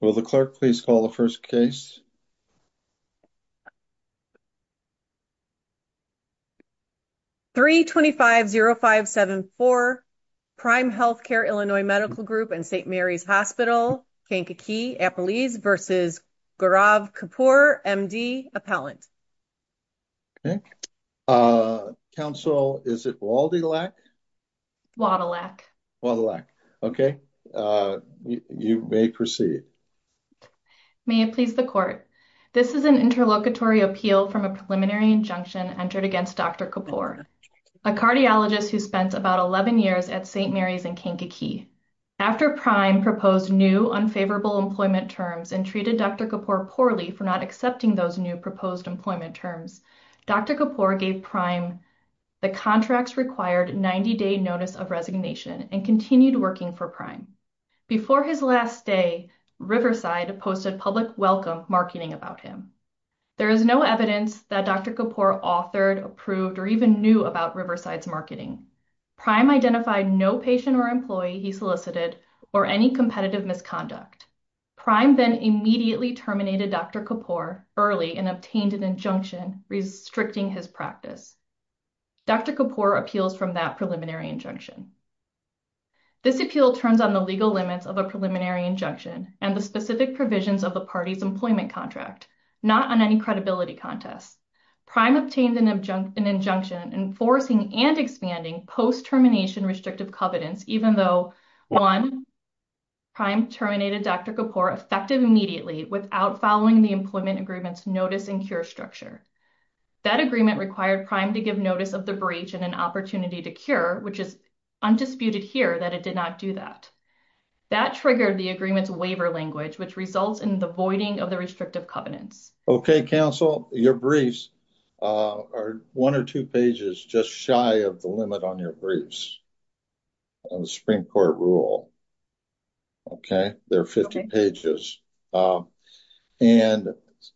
Will the clerk please call the first case? 325-0574 Prime Healthcare Illinois Medical Group and St. Mary's Hospital, Kankakee, Appalachia v. Gaurav Kapoor, M.D., Appellant. 325-0574 Prime Healthcare Illinois Medical Group and St. Mary's Hospital, Kankakee, Appallant. Counsel, is it Wadilak? Wadilak. Wadilak. Okay, you may proceed. May it please the court. This is an interlocutory appeal from a preliminary injunction entered against Dr. Kapoor, a cardiologist who spent about 11 years at St. Mary's in Kankakee. After Prime proposed new, unfavorable employment terms and treated Dr. Kapoor poorly for not those new proposed employment terms, Dr. Kapoor gave Prime the contracts required 90-day notice of resignation and continued working for Prime. Before his last day, Riverside posted public welcome marketing about him. There is no evidence that Dr. Kapoor authored, approved, or even knew about Riverside's marketing. Prime identified no patient or employee he solicited or any misconduct. Prime then immediately terminated Dr. Kapoor early and obtained an injunction restricting his practice. Dr. Kapoor appeals from that preliminary injunction. This appeal turns on the legal limits of a preliminary injunction and the specific provisions of the party's employment contract, not on any credibility contest. Prime obtained an injunction enforcing and expanding post-termination restrictive covenants even though, one, Prime terminated Dr. Kapoor effective immediately without following the employment agreement's notice and cure structure. That agreement required Prime to give notice of the breach and an opportunity to cure, which is undisputed here that it did not do that. That triggered the agreement's waiver language, which results in the voiding of the restrictive covenants. Okay, counsel, your briefs are one or two pages just shy of the limit on your briefs on the Supreme Court rule, okay? They're 50 pages, and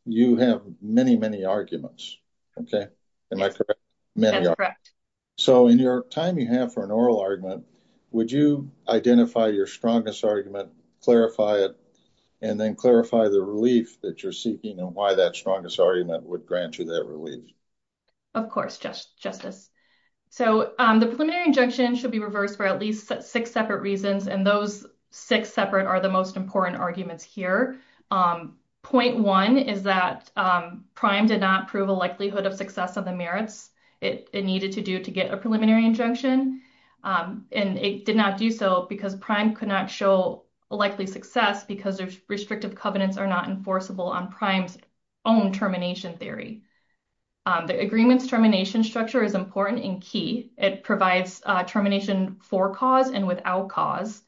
you have many, many arguments, okay? Am I correct? Many. That's correct. So, in your time you have for an oral argument, would you identify your strongest argument, clarify it, and then clarify the relief that you're seeking and why that strongest argument would grant you that relief? Of course, Justice. So, the preliminary injunction should be reversed for at least six separate reasons, and those six separate are the most important arguments here. Point one is that Prime did not prove a likelihood of success of the merits it needed to do to get a preliminary injunction, and it did not do so because Prime could not show likely success because their restrictive covenants are not enforceable on Prime's termination theory. The agreement's termination structure is important and key. It provides termination for cause and without cause,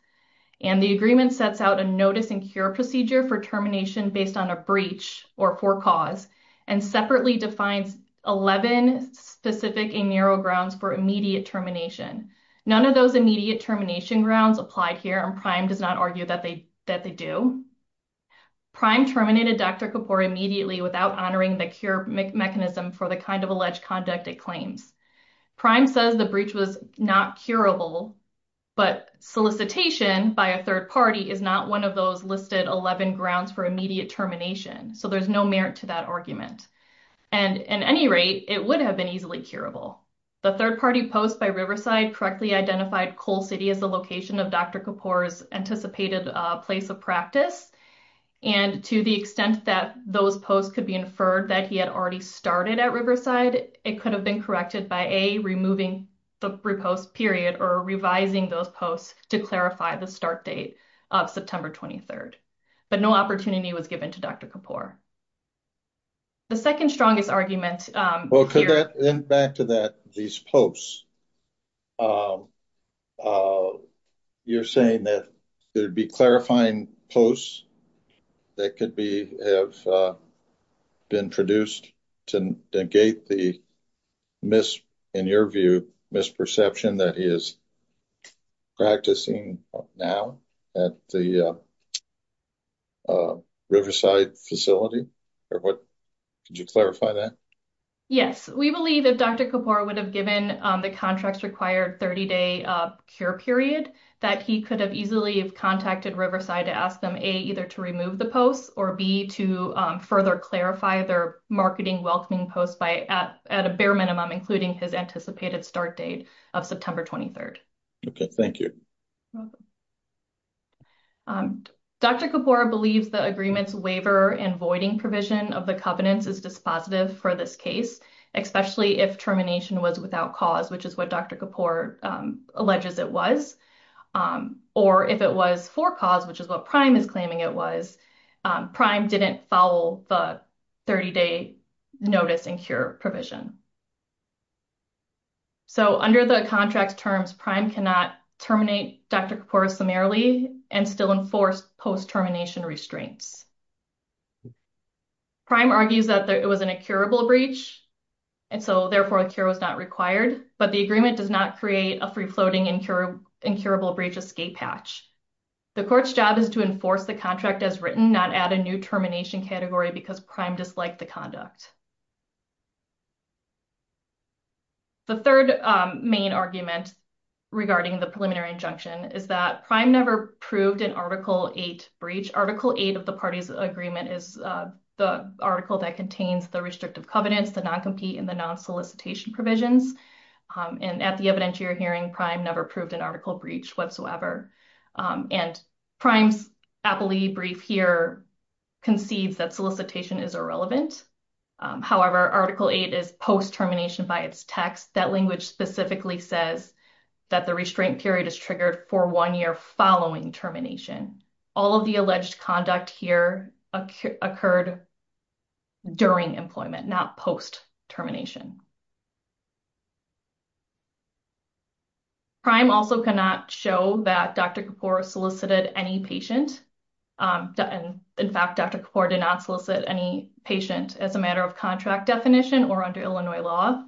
and the agreement sets out a notice and cure procedure for termination based on a breach or for cause, and separately defines 11 specific in narrow grounds for immediate termination. None of those immediate termination grounds apply here, Prime does not argue that they do. Prime terminated Dr. Kapoor immediately without honoring the cure mechanism for the kind of alleged conduct it claims. Prime says the breach was not curable, but solicitation by a third party is not one of those listed 11 grounds for immediate termination, so there's no merit to that argument, and at any rate, it would have been easily curable. The third party post by Riverside correctly identified Cole City as the location of Dr. Kapoor's anticipated place of practice, and to the extent that those posts could be inferred that he had already started at Riverside, it could have been corrected by A, removing the repost period or revising those posts to clarify the start date of September 23rd, but no opportunity was given to Dr. Kapoor. The second strongest argument... Back to these posts, you're saying that there'd be clarifying posts that could have been produced to negate the misperception that he is practicing now at the Riverside facility? Could you clarify that? Yes, we believe that Dr. Kapoor would have given the contracts required 30-day cure period that he could have easily have contacted Riverside to ask them A, either to remove the posts, or B, to further clarify their marketing welcoming posts at a bare minimum, including his anticipated start date of September 23rd. Okay, thank you. Dr. Kapoor believes the agreement's waiver and voiding provision of the covenants is dispositive for this case, especially if termination was without cause, which is what Dr. Kapoor alleges it was, or if it was for cause, which is what Prime is claiming it was. Prime didn't follow the 30-day notice and cure provision. Under the contract terms, Prime cannot terminate Dr. Kapoor summarily and still enforce post-termination restraints. Prime argues that it was an incurable breach, and so therefore a cure was not required, but the agreement does not create a free-floating incurable breach escape patch. The court's job is to enforce the contract as written, not add a new termination category because Prime disliked the conduct. The third main argument regarding the preliminary injunction is that Prime never proved an Article 8 breach. Article 8 of the parties agreement is the article that contains the restrictive covenants, the non-compete, and the non-solicitation provisions, and at the evidentiary hearing, Prime never proved an article breach whatsoever, and Prime's appellee brief here conceives that solicitation is irrelevant. However, Article 8 is post-termination by its text. That language specifically says that the restraint period is triggered for one year following termination. All of the alleged conduct here occurred during employment, not post-termination. Prime also cannot show that Dr. Kapoor solicited any patient. In fact, Dr. Kapoor did not solicit any patient as a matter of contract definition or under Illinois law.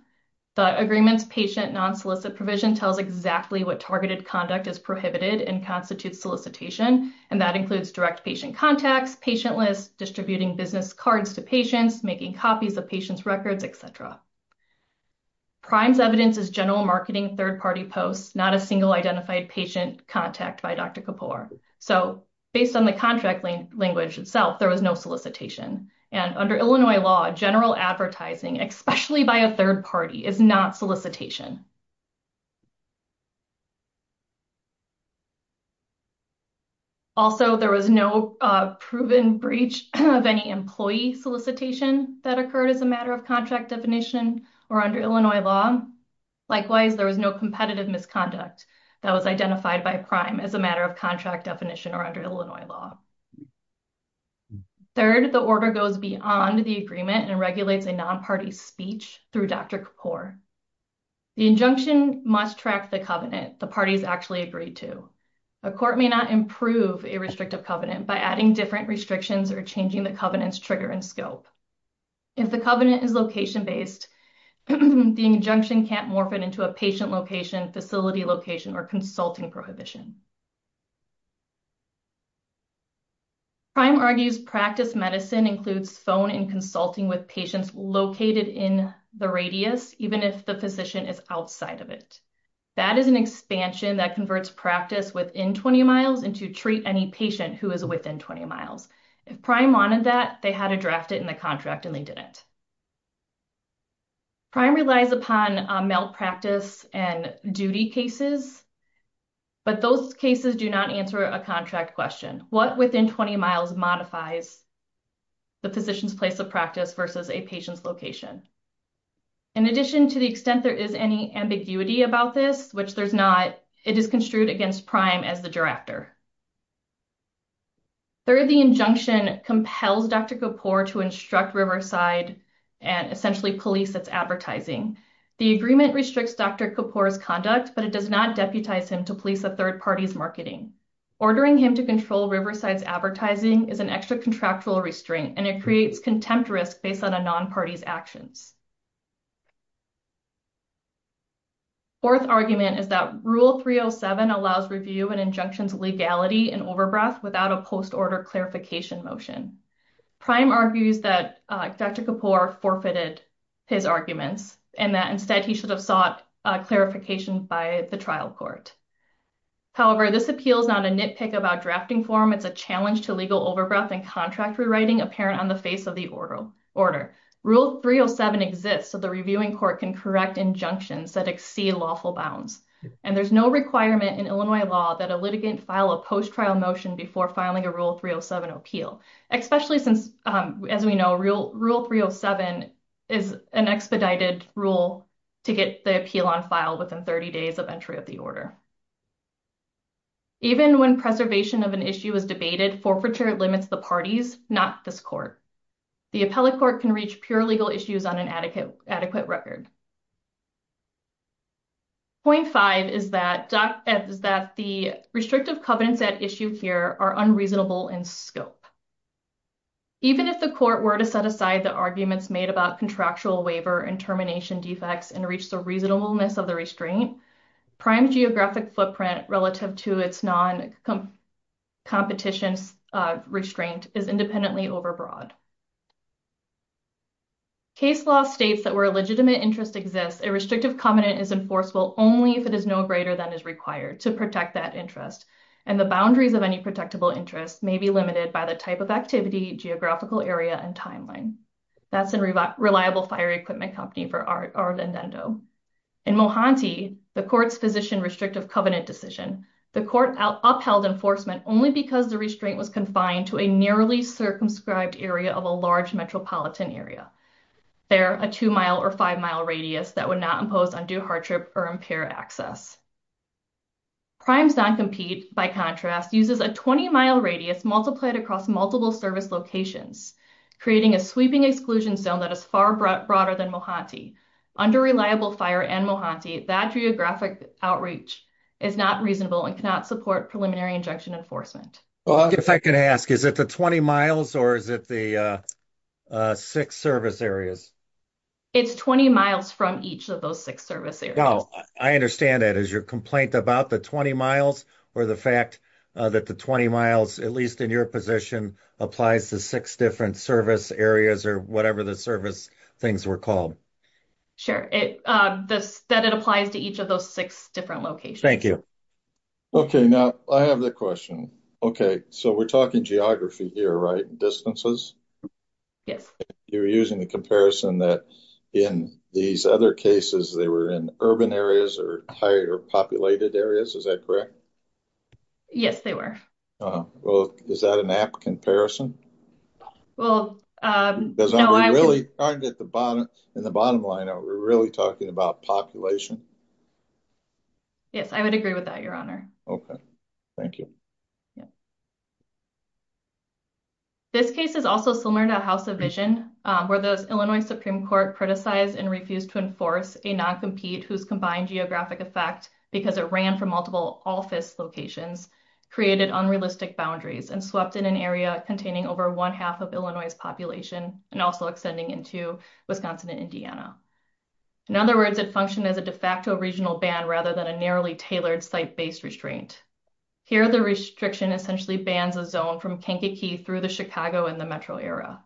The agreement's patient non-solicit provision tells exactly what targeted conduct is prohibited and constitutes solicitation, and that includes direct patient contacts, patient lists, distributing business cards to patients, making copies of patients' records, et cetera. Prime's evidence is general marketing, third-party posts, not a single identified patient contact by Dr. Kapoor. So, based on the contract language itself, there was no solicitation, and under Illinois law, general advertising, especially by a third party, is not solicitation. Also, there was no proven breach of any employee solicitation that occurred as a matter of contract definition or under Illinois law. Likewise, there was no competitive misconduct that was identified by Prime as a matter of contract definition or under Illinois law. Third, the order goes beyond the agreement and regulates a non-party speech through Dr. Kapoor. The injunction must track the covenant the parties actually agreed to. A court may not improve a restrictive covenant by adding different restrictions or changing the covenant's trigger and scope. If the covenant is location-based, the injunction can't morph it into a patient location, facility location, or consulting prohibition. Prime argues practice medicine includes phone and consulting with patients located in the radius, even if the physician is outside of it. That is an expansion that converts practice within 20 miles and to treat any patient who is within 20 miles. If Prime wanted that, they had to draft it in the contract and they didn't. Prime relies upon malpractice and duty cases, but those cases do not answer a contract question. What within 20 miles modifies the physician's place of practice versus a patient's location? In addition, to the extent there is any ambiguity about this, which there's not, it is construed against Prime as the drafter. Third, the injunction compels Dr. Kapoor to instruct Riverside and essentially police its advertising. The agreement restricts Dr. Kapoor's conduct, but it does not deputize him to police a third party's marketing. Ordering him to control Riverside's advertising is an extra contractual restraint, and it creates contempt risk based on a non-party's actions. Fourth argument is that Rule 307 allows review and injunctions legality in overbreadth without a post-order clarification motion. Prime argues that Dr. Kapoor forfeited his arguments and that instead he should have sought clarification by the trial court. However, this appeal is not a nitpick about drafting form. It's a challenge to legal overbreath and contract rewriting apparent on face of the order. Rule 307 exists so the reviewing court can correct injunctions that exceed lawful bounds, and there's no requirement in Illinois law that a litigant file a post-trial motion before filing a Rule 307 appeal, especially since, as we know, Rule 307 is an expedited rule to get the appeal on file within 30 days of entry of the order. Even when preservation of an issue is debated, forfeiture limits the parties, not this court. The appellate court can reach pure legal issues on an adequate record. Point five is that the restrictive covenants at issue here are unreasonable in scope. Even if the court were to set aside the arguments made about contractual waiver and termination defects and reach the reasonableness of the restraint, prime geographic footprint relative to its non-competition restraint is independently overbroad. Case law states that where a legitimate interest exists, a restrictive covenant is enforceable only if it is no greater than is required to protect that interest, and the boundaries of any protectable interest may be limited by the type of activity, geographical area, and timeline. That's a reliable fire equipment company for Ardendendo. In Mohanty, the court's position restrictive covenant decision court upheld enforcement only because the restraint was confined to a nearly circumscribed area of a large metropolitan area. There, a two-mile or five-mile radius that would not impose undue hardship or impair access. Primes non-compete, by contrast, uses a 20-mile radius multiplied across multiple service locations, creating a sweeping exclusion zone that is far broader than Mohanty. Under reliable fire and Mohanty, that geographic outreach is not reasonable and cannot support preliminary injunction enforcement. If I could ask, is it the 20 miles or is it the six service areas? It's 20 miles from each of those six service areas. I understand that. Is your complaint about the 20 miles or the fact that the 20 miles, at least in your position, applies to six different service areas or whatever the service things were called? Sure, that it applies to each of those six different locations. Thank you. Okay, now I have the question. Okay, so we're talking geography here, right? Distances? Yes. You're using the comparison that in these other cases, they were in urban areas or higher populated areas. Is that correct? Yes, they were. Well, is that an app comparison? Well, no. Because in the bottom line, are we really talking about population? Yes, I would agree with that, Your Honor. Okay, thank you. This case is also similar to House of Vision, where the Illinois Supreme Court criticized and refused to enforce a non-compete whose combined geographic effect, because it ran from multiple office locations, created unrealistic boundaries and swept in an area containing over one half of Illinois' population and also extending into Wisconsin and Indiana. In other words, it functioned as a de facto regional ban rather than a narrowly tailored site-based restraint. Here, the restriction essentially bans a zone from Kankakee through the Chicago and the metro area.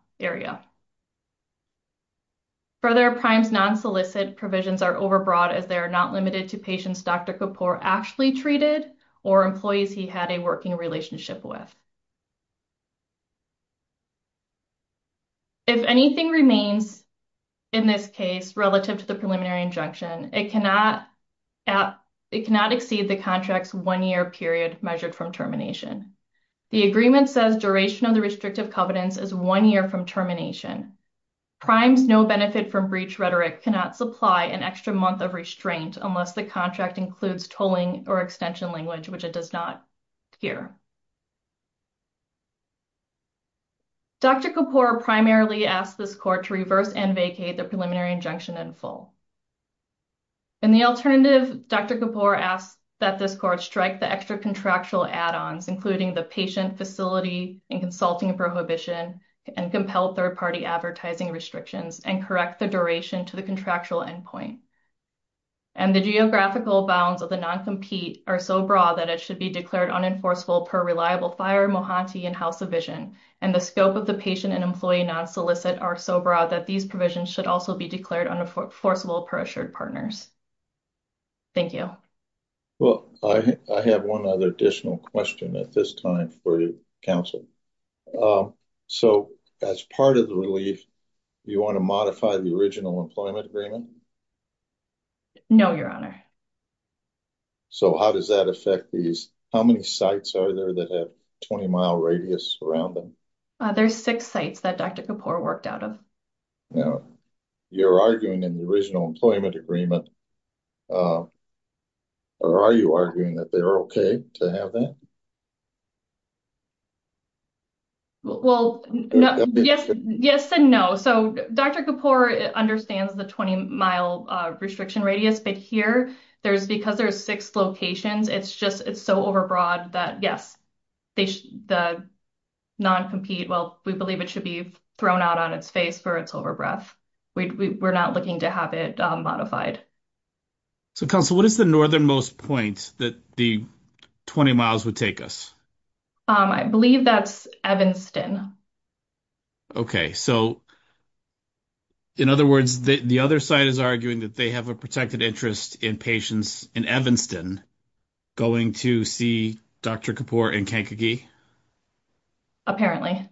Further, PRIME's non-solicit provisions are overbroad as they are not limited to patients Dr. Kapoor actually treated or employees he had a working relationship with. If anything remains in this case relative to the preliminary injunction, it cannot exceed the contract's one-year period measured from termination. The agreement says duration of the restrictive covenants is one year from termination. PRIME's no-benefit-from-breach rhetoric cannot supply an extra month of restraint unless the contract includes tolling or extension language, which it does not here. Dr. Kapoor primarily asked this court to reverse and vacate the preliminary injunction in full. In the alternative, Dr. Kapoor asked that this court strike the extra contractual add-ons, including the patient facility and consulting prohibition and compelled third-party advertising restrictions and correct the duration to the contractual endpoint. And the geographical bounds of the non-compete are so broad that it should be declared unenforceable by the court. The scope of the patient and employee non-solicit are so broad that these provisions should also be declared unenforceable per assured partners. Thank you. Well, I have one other additional question at this time for you, counsel. So, as part of the relief, you want to modify the original employment agreement? No, your honor. So, how does that affect these? How many sites are there that have 20-mile radius around them? There's six sites that Dr. Kapoor worked out of. Now, you're arguing in the original employment agreement, or are you arguing that they're okay to have that? Well, yes and no. So, Dr. Kapoor understands the 20-mile restriction radius, but here, because there's six locations, it's just so overbroad that, yes, the non-compete, well, we believe it should be thrown out on its face for its overbreadth. We're not looking to have it modified. So, counsel, what is the northernmost point that the 20 miles would take us? I believe that's Evanston. Okay. So, in other words, the other side is arguing that they have a protected interest in patients in Evanston going to see Dr. Kapoor in Kankakee? Apparently.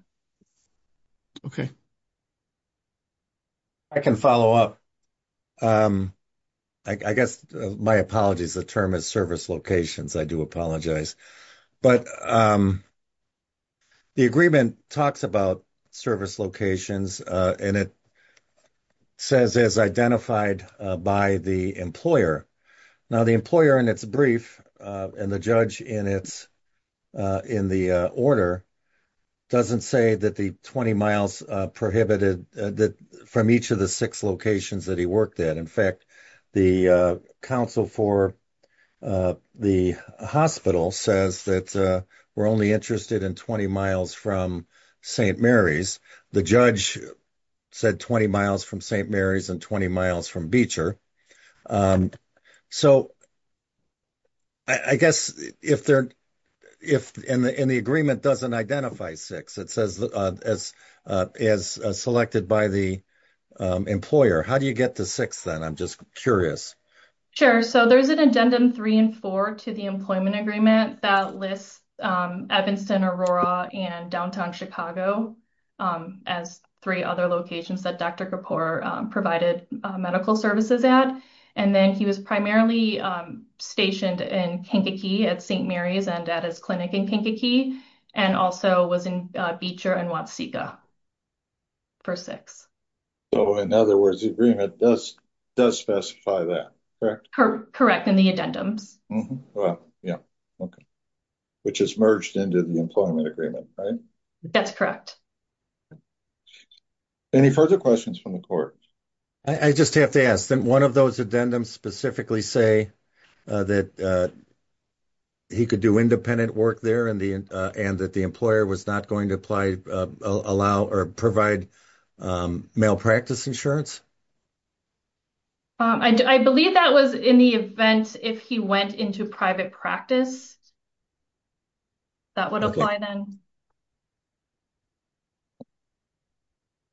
I can follow up. I guess, my apologies, the term is service locations. I do apologize. But the agreement talks about service locations, and it says it's identified by the employer. Now, the employer in its brief and the judge in the order doesn't say that the 20 miles prohibited from each of the six locations that he worked at. In fact, the counsel for the hospital says that we're only interested in 20 miles from St. Mary's. The judge said 20 miles from St. Mary's and 20 miles from Beecher. So, I guess, and the agreement doesn't identify six. It says it's selected by the employer. How do you get to six, then? I'm just curious. So, there's an addendum three and four to the employment agreement that lists Evanston, Aurora, and downtown Chicago as three other locations that Dr. Kapoor provided medical services at. And then he was primarily stationed in Kankakee at St. Mary's and at his clinic in Kankakee and also was in Beecher and Watsika for six. So, in other words, the agreement does specify that, correct? Correct, in the addendums. Which is merged into the employment agreement, right? That's correct. Any further questions from the court? I just have to ask, didn't one of those addendums specifically say that he could do independent work there and that the employer was not going to provide malpractice insurance? I believe that was in the event if he went into private practice. That would apply then.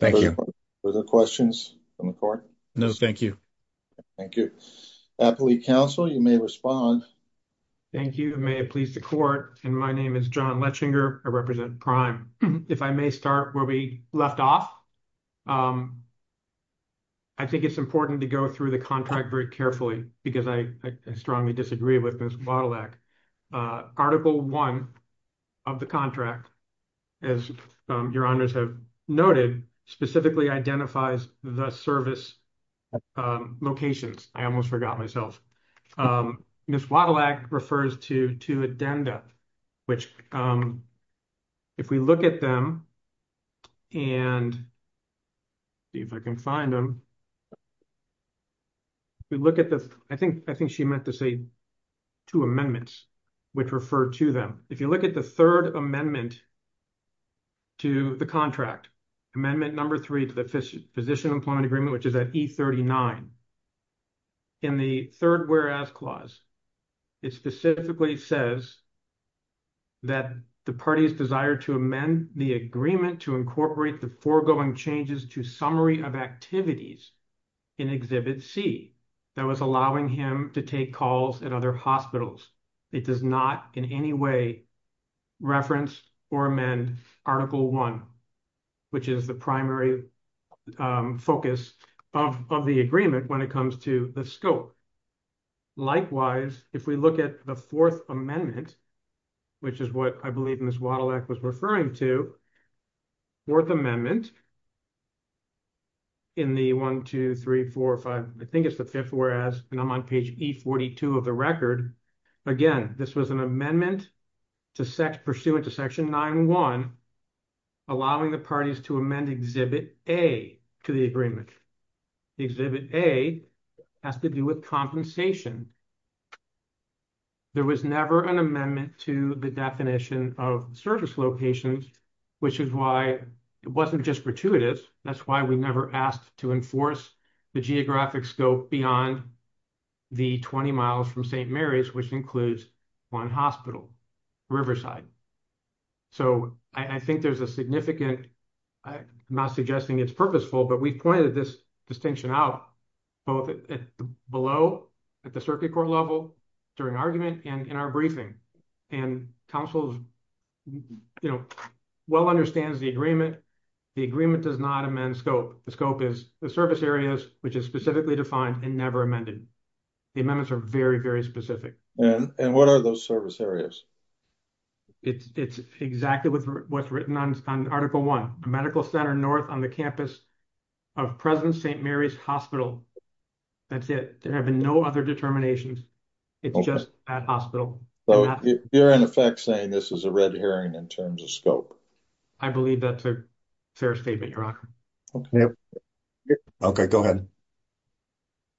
Thank you. Further questions from the court? No, thank you. Thank you. Appellate counsel, you may respond. Thank you. May it please the court. And my name is John Lechinger. I represent Prime. If I may start where we left off, I think it's important to go through the contract very carefully because I strongly disagree with Ms. Wadelach. Article 1 of the contract, as your honors have noted, specifically identifies the service locations. I almost forgot myself. Ms. Wadelach refers to two addenda, which if we look at them and see if I can find them. We look at this, I think she meant to say two amendments, which refer to them. If you look at the third amendment to the contract, amendment number three to the physician employment agreement, which is at E39. In the third whereas clause, it specifically says that the parties desire to amend the agreement to incorporate the foregoing changes to summary of activities in Exhibit C that was allowing him to take calls at other hospitals. It does not in any way reference or amend Article 1, which is the primary focus of the agreement when it comes to the scope. Likewise, if we look at the fourth amendment, which is what I believe Ms. Wadelach was referring to, fourth amendment in the 1, 2, 3, 4, 5, I think it's the fifth whereas and on page E42 of the record. Again, this was an amendment pursuant to Section 9.1, allowing the parties to amend Exhibit A to the agreement. Exhibit A has to do with compensation. There was never an amendment to the definition of service locations, which is why it wasn't just gratuitous. That's why we never asked to enforce the geographic scope beyond the 20 miles from St. Mary's, which includes one hospital, Riverside. So I think there's a significant, I'm not suggesting it's purposeful, but we've pointed this distinction out both below at the circuit court level during argument and in our briefing. And council well understands the agreement. The agreement does not amend scope. The scope is the service areas, which is specifically defined and never amended. The amendments are very, very specific. And what are those service areas? It's exactly what's written on Article 1, a medical center north on the campus of present St. Mary's Hospital. That's it. There have been no other determinations. It's just that hospital. You're in effect saying this is a red herring in terms of scope. I believe that's a fair statement. You're right. Okay, go ahead.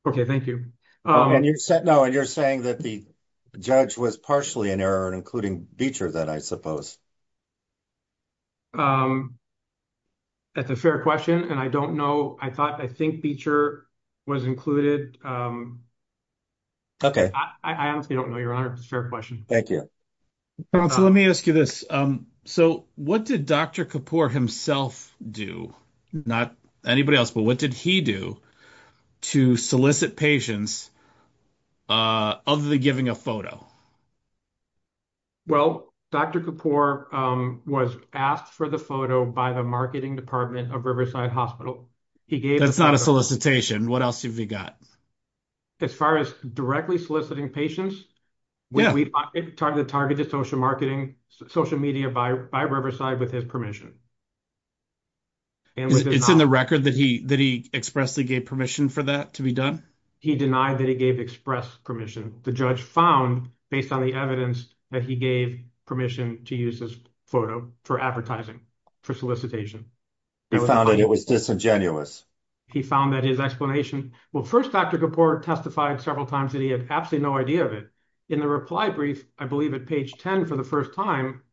Okay, thank you. And you said no, and you're saying that the judge was partially in error and including Beecher that I suppose. That's a fair question, and I don't know. I thought I think Beecher was included. Okay, I honestly don't know. Thank you. Let me ask you this. So, what did Dr. Kapoor himself do? Not anybody else, but what did he do to solicit patients of the giving a photo? Well, Dr. Kapoor was asked for the photo by the marketing department of Riverside hospital. He gave that's not a solicitation. What else have you got? As far as directly soliciting patients. When we target the target to social marketing, social media by Riverside with his permission. It's in the record that he that he expressly gave permission for that to be done. He denied that he gave express permission. The judge found based on the evidence that he gave permission to use this photo for advertising for solicitation. He found that it was disingenuous. He found that his explanation. Well, 1st, Dr. Kapoor testified several times that he had absolutely no idea of it. In the reply brief, I believe at page 10 for the 1st time.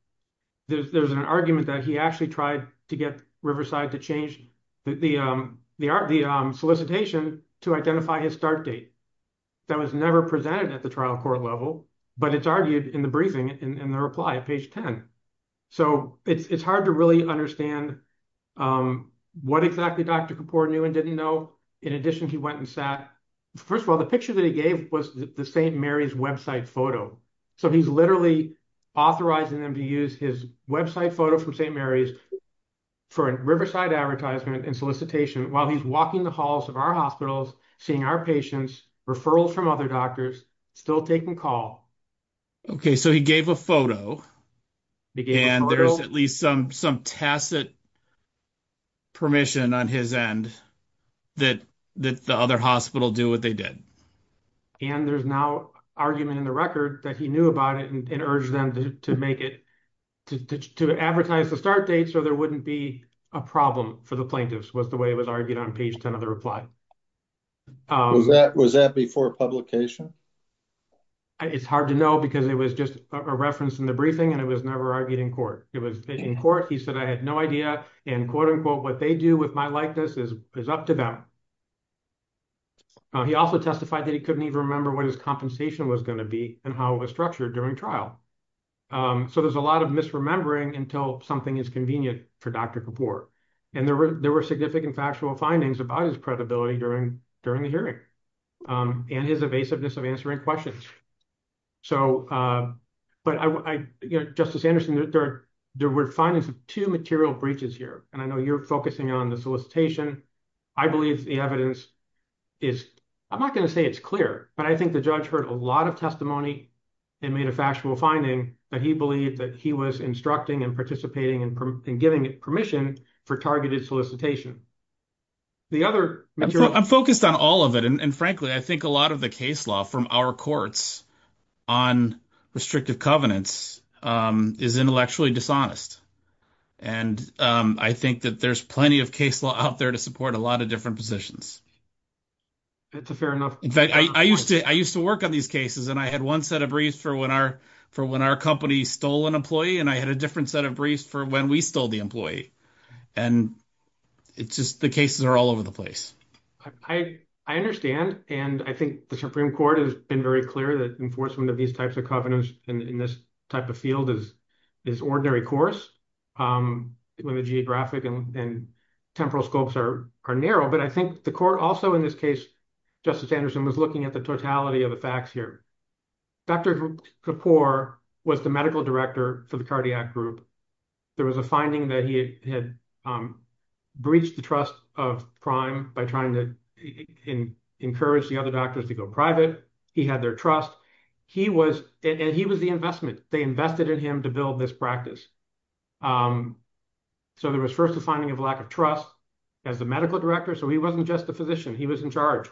There's an argument that he actually tried to get Riverside to change the solicitation to identify his start date. That was never presented at the trial court level, but it's argued in the briefing in the reply at page 10. So it's hard to really understand what exactly Dr. Kapoor knew and didn't know. In addition, he went and sat. First of all, the picture that he gave was the St. Mary's website photo. So he's literally authorizing them to use his website photo from St. Mary's for Riverside advertisement and solicitation while he's walking the halls of our hospitals, seeing our patients referrals from other doctors still taking call. Okay, so he gave a photo and there's at least some some tacit. Permission on his end that that the other hospital do what they did. And there's now argument in the record that he knew about it and urged them to make it to advertise the start date. So there wouldn't be a problem for the plaintiffs was the way it was argued on page 10 of the reply. Was that before publication? It's hard to know because it was just a reference in the briefing and it was never argued in court. It was in court. He said, I had no idea and quote, unquote, what they do with my likeness is is up to them. He also testified that he couldn't even remember what his compensation was going to be and how it was structured during trial. So there's a lot of misremembering until something is convenient for Dr. Kapoor. And there were significant factual findings about his credibility during during the hearing and his evasiveness of answering questions. So, but I Justice Anderson, there were findings of two material breaches here, and I know you're focusing on the solicitation. I believe the evidence is I'm not going to say it's clear, but I think the judge heard a lot of testimony and made a factual finding that he believed that he was instructing and participating and giving permission for targeted solicitation. The other, I'm focused on all of it, and frankly, I think a lot of the case law from our courts on restrictive covenants is intellectually dishonest. And I think that there's plenty of case law out there to support a lot of different positions. It's a fair enough. In fact, I used to I used to work on these cases and I had one set of briefs for when our for when our company stole an employee and I had a different set of briefs for when we stole the employee. And it's just the cases are all over the place. I, I understand. And I think the Supreme Court has been very clear that enforcement of these types of covenants in this type of field is is ordinary course when the geographic and temporal scopes are are narrow. But I think the court also, in this case, Justice Anderson was looking at the totality of the facts here. Dr. Kapoor was the medical director for the cardiac group. There was a finding that he had breached the trust of crime by trying to encourage the other doctors to go private. He had their trust. He was and he was the investment. They invested in him to build this practice. So there was first a finding of lack of trust as the medical director. So he wasn't just a physician. He was in charge.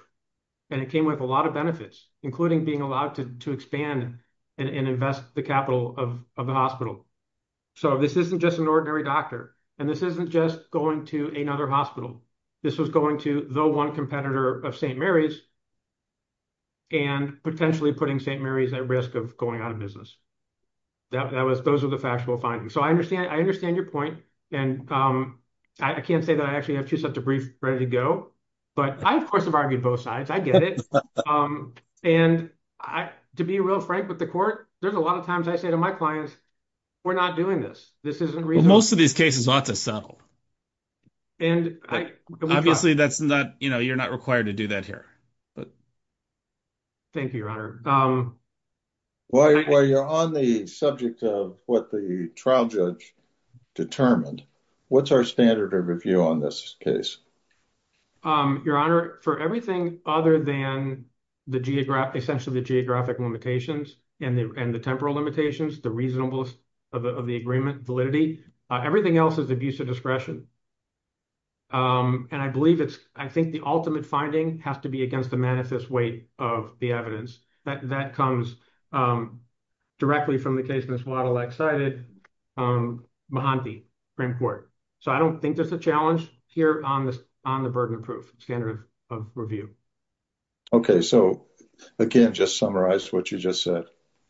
And it came with a lot of benefits, including being allowed to expand and invest the capital of the hospital. So this isn't just an ordinary doctor. And this isn't just going to another hospital. This was going to the one competitor of St. Mary's. And potentially putting St. Mary's at risk of going out of business. That was those are the factual findings. So I understand. I understand your point. And I can't say that I actually have to set to brief ready to go. But I, of course, have argued both sides. I get it. And I, to be real frank with the court, there's a lot of times I say to my clients. We're not doing this. This isn't most of these cases ought to settle. And obviously, that's not you're not required to do that here. Thank you, your honor. While you're on the subject of what the trial judge determined, what's our standard of review on this case? Your honor, for everything other than the geographic, essentially the geographic limitations and the temporal limitations, the reasonableness of the agreement validity, everything else is abuse of discretion. And I believe it's I think the ultimate finding has to be against the manifest weight of the evidence that that comes directly from the case. And it's a lot of excited. So I don't think there's a challenge here on this, on the burden of proof standard of review. Okay, so again, just summarize what you just said.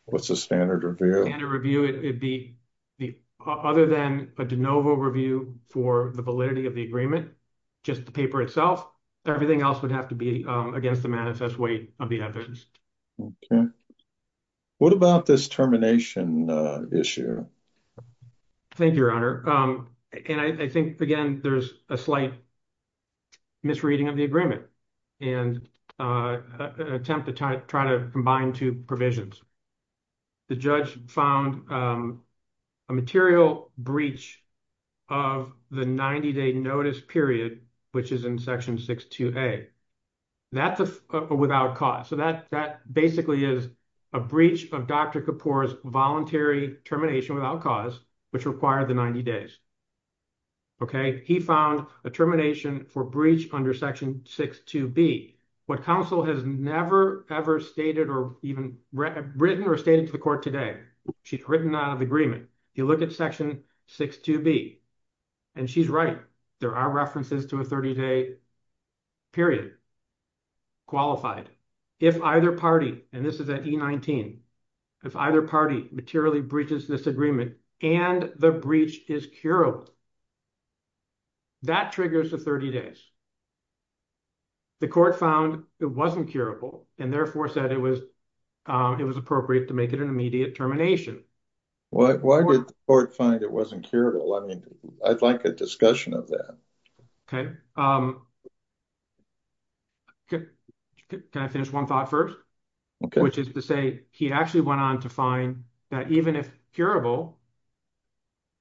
What's the standard review and a review? It'd be the other than a de novo review for the validity of the agreement, just the paper itself. Everything else would have to be against the manifest weight of the evidence. What about this termination issue? Thank you, your honor. And I think, again, there's a slight misreading of the agreement and attempt to try to combine two provisions. The judge found a material breach of the 90-day notice period, which is in section 6-2A, without cause. So that basically is a breach of Dr. Kapoor's voluntary termination without cause, which required the 90 days. Okay, he found a termination for breach under section 6-2B. What counsel has never ever stated or even written or stated to the court today, she'd written out of agreement. You look at section 6-2B, and she's right. There are references to a 30-day period, qualified. If either party, and this is at E-19, if either party materially breaches this agreement, and the breach is curable, that triggers the 30 days. The court found it wasn't curable, and therefore said it was appropriate to make it an immediate termination. Why did the court find it wasn't curable? I mean, I'd like a discussion of that. Okay. Can I finish one thought first? Which is to say, he actually went on to find that even if curable,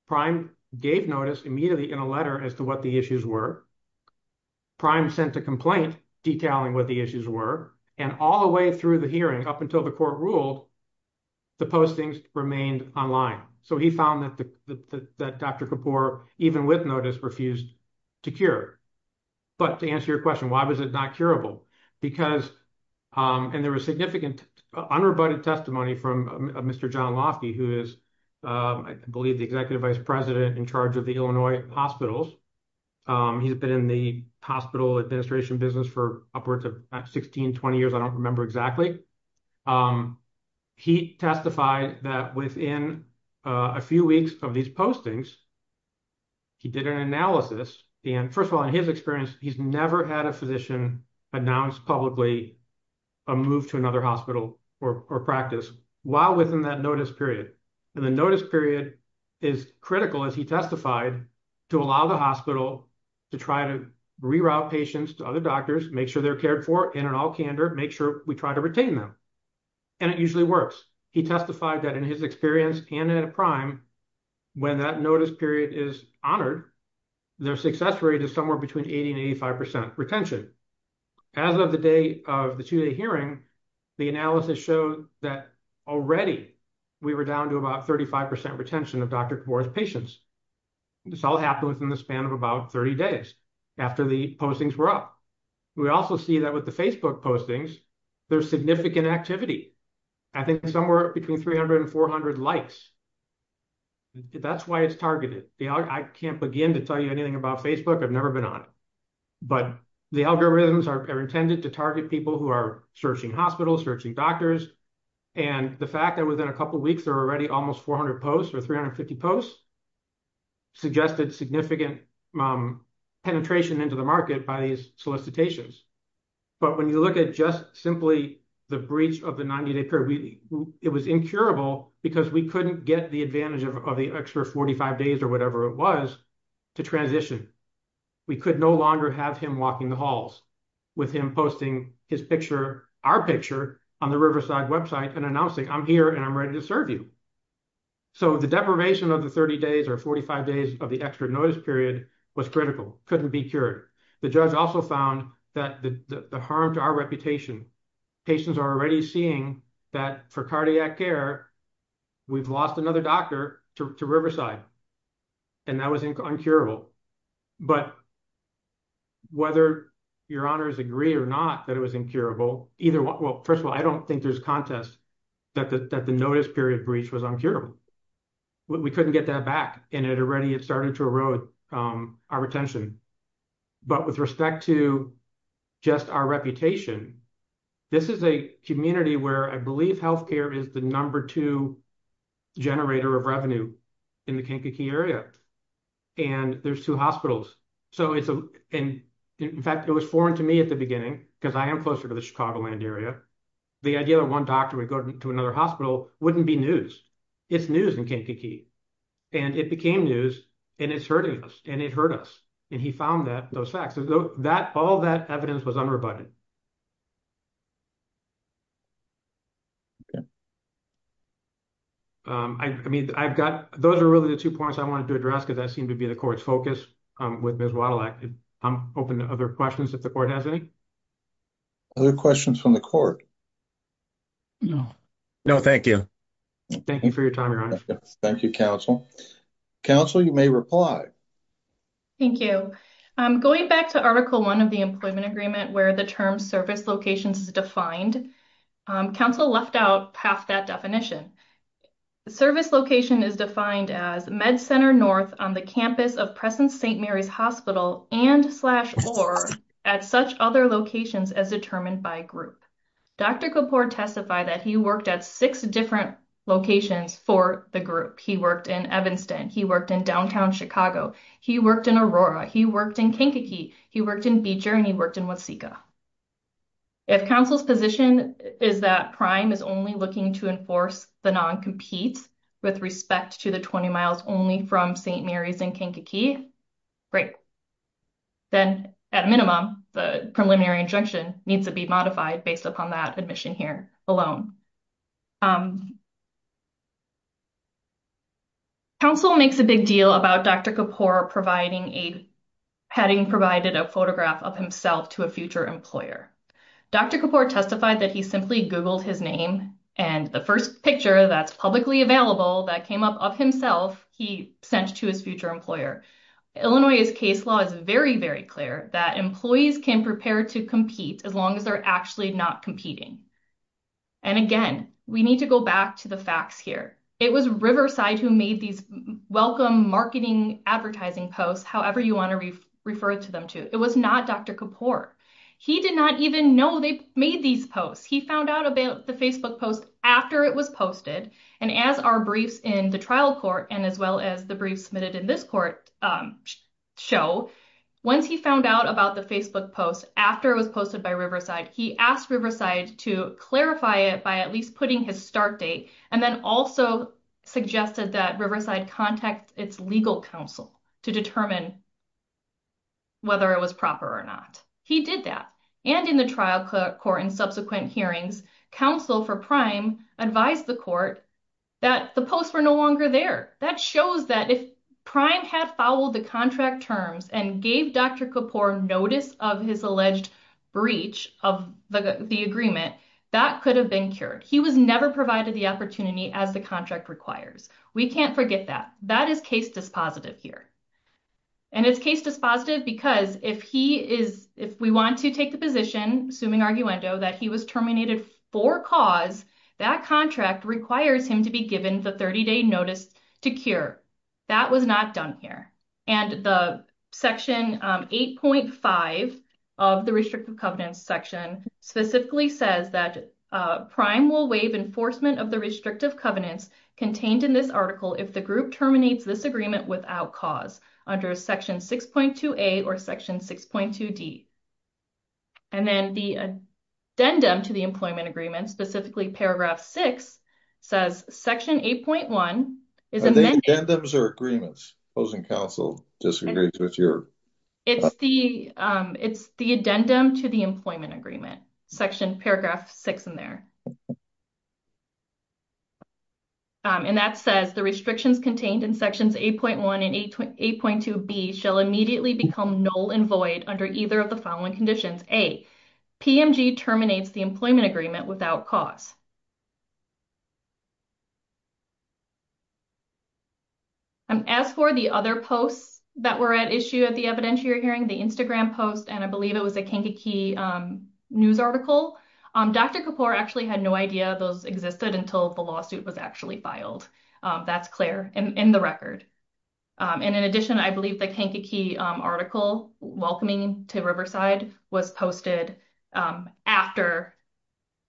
Prime gave notice immediately in a letter as to what the issues were. Prime sent a complaint detailing what the issues were. And all the way through the hearing, up until the court ruled, the postings remained online. So he found that Dr. Kapoor, even with notice, refused to cure. But to answer your question, why was it not curable? And there was significant unrebutted testimony from Mr. John Lofty, who is, I believe, the executive vice president in charge of the Illinois hospitals. He's been in the hospital administration business for upwards of 16, 20 years. I don't remember exactly. He testified that within a few weeks of these postings, he did an analysis. And first of all, in his experience, he's never had a physician announced publicly a move to another hospital or practice while within that notice period. And the notice period is critical, as he testified, to allow the hospital to try to reroute patients to other doctors, make sure they're cared for, and in all candor, make sure we try to retain them. And it usually works. He testified that in his experience and at Prime, when that notice period is honored, their success rate is somewhere between 80% and 85% retention. As of the day of the two-day hearing, the analysis shows that already we were down to about 35% retention of Dr. Kvore's patients. This all happened within the span of about 30 days after the postings were up. We also see that with the Facebook postings, there's significant activity. I think somewhere between 300 and 400 likes. That's why it's targeted. I can't begin to tell you anything about Facebook. I've never been on it. But the algorithms are intended to target people who are searching hospitals, searching doctors. And the fact that within a couple of weeks, there were already almost 400 posts or 350 posts suggested significant penetration into the market by these solicitations. But when you look at just simply the breach of the 90-day period, it was incurable because we couldn't get the advantage of the extra 45 days or whatever it was to transition. We could no longer have him walking the halls with him posting his picture, our picture on the Riverside website and announcing, I'm here and I'm ready to serve you. So the deprivation of the 30 days or 45 days of the extra notice period was critical, couldn't be cured. The judge also found that the harm to our reputation, patients are already seeing that for cardiac care, we've lost another doctor to Riverside. And that was incurable. But whether your honors agree or not that it was incurable, either one. Well, first of all, I don't think there's a contest that the notice period breach was uncurable. We couldn't get that back and it already started to erode our retention. But with respect to just our reputation, this is a community where I believe healthcare is the number two generator of revenue in the Kankakee area. And there's two hospitals. So in fact, it was foreign to me at the beginning because I am closer to the Chicagoland area. The idea that one doctor would go to another hospital wouldn't be news. It's news in Kankakee. And it became news and it's hurting us and it hurt us. And he found those facts. All that evidence was unrebutted. I mean, I've got those are really the two points I wanted to address because I seem to be the court's focus with Ms. Waddillack. I'm open to other questions if the court has any. Other questions from the court? No. No, thank you. Thank you for your time, your honor. Thank you, counsel. Counsel, you may reply. Thank you. Going back to article one of the employment agreement where the term service locations is defined, counsel left out half that definition. Service location is defined as med center north on the campus of present St. Mary's Hospital and slash or at such other locations as determined by group. Dr. Kapoor testified that he worked at six different locations for the group. He worked in Evanston. He worked in downtown Chicago. He worked in Aurora. He worked in Kankakee. He worked in Beecher and he worked in Waseca. If counsel's position is that prime is only looking to enforce the non-competes with respect to the 20 miles only from St. Mary's and Kankakee, great. Then at minimum, the preliminary injunction needs to be modified based upon that admission here alone. Counsel makes a big deal about Dr. Kapoor providing a, having provided a photograph of himself to a future employer. Dr. Kapoor testified that he simply Googled his name and the first picture that's publicly available that came up of himself, he sent to his future employer. Illinois's case law is very, very clear that employees can prepare to compete as long as they're actually not competing. And again, we need to go back to the facts here. It was Riverside who made these welcome marketing advertising posts, however you want to refer to them too. It was not Dr. Kapoor. He did not even know they made these posts. He found out about the Facebook post after it was posted and as our briefs in the trial court and as well as the briefs submitted in this court show, once he found out about the Facebook post after it was posted by Riverside, he asked Riverside to clarify it by at least putting his start date and then also suggested that Riverside contact its legal counsel to determine whether it was proper or not. He did that. And in the trial court in subsequent hearings, counsel for Prime advised the court that the posts were no longer there. That shows that if Prime had followed the contract terms and gave Dr. Kapoor notice of his alleged breach of the agreement, that could have been cured. He was never provided the opportunity as the contract requires. We can't forget that. That is case dispositive here. And it's case dispositive because if he is, if we want to take the position, assuming arguendo, that he was terminated for cause, that contract requires him to be given the 30-day notice to cure. That was not done here. And the section 8.5 of the restrictive covenants section specifically says that Prime will waive enforcement of the restrictive covenants contained in this article if the group terminates this agreement without cause under section 6.2a or section 6.2d. And then the addendum to the employment agreement, specifically paragraph six, says section 8.1. I think addendums are agreements. Opposing counsel disagrees with your. It's the addendum to the employment agreement, section, paragraph six in there. And that says the restrictions contained in sections 8.1 and 8.2b shall immediately become null and void under either of the following conditions. A, PMG terminates the employment agreement without cause. And as for the other posts that were at issue at the evidentiary hearing, the Instagram post, and I believe it was a Kankakee news article, Dr. Kapoor actually had no idea those existed until the lawsuit was actually filed. That's clear in the record. And in addition, I believe the Kankakee article welcoming to Riverside was posted after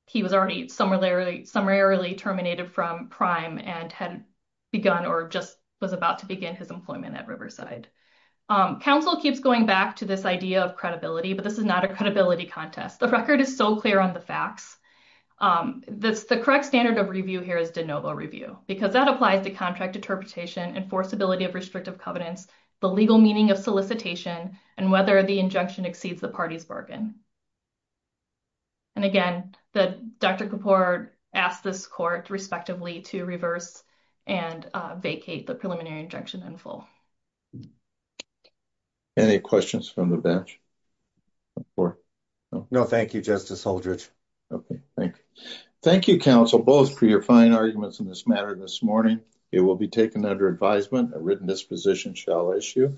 he was already summarily terminated from prime and had begun or just was about to begin his employment at Riverside. Counsel keeps going back to this idea of credibility, but this is not a credibility contest. The record is so clear on the facts. The correct standard of review here is de novo review because that applies to contract interpretation, enforceability of restrictive covenants, the legal meaning of solicitation, and whether the injunction exceeds the party's bargain. And again, the Dr. Kapoor asked this court respectively to reverse and vacate the preliminary injunction in full. Any questions from the bench? No, thank you, Justice Holdridge. Okay, thank you. Thank you, counsel, both for your fine arguments in this matter this morning. It will be taken under advisement. A written disposition shall issue.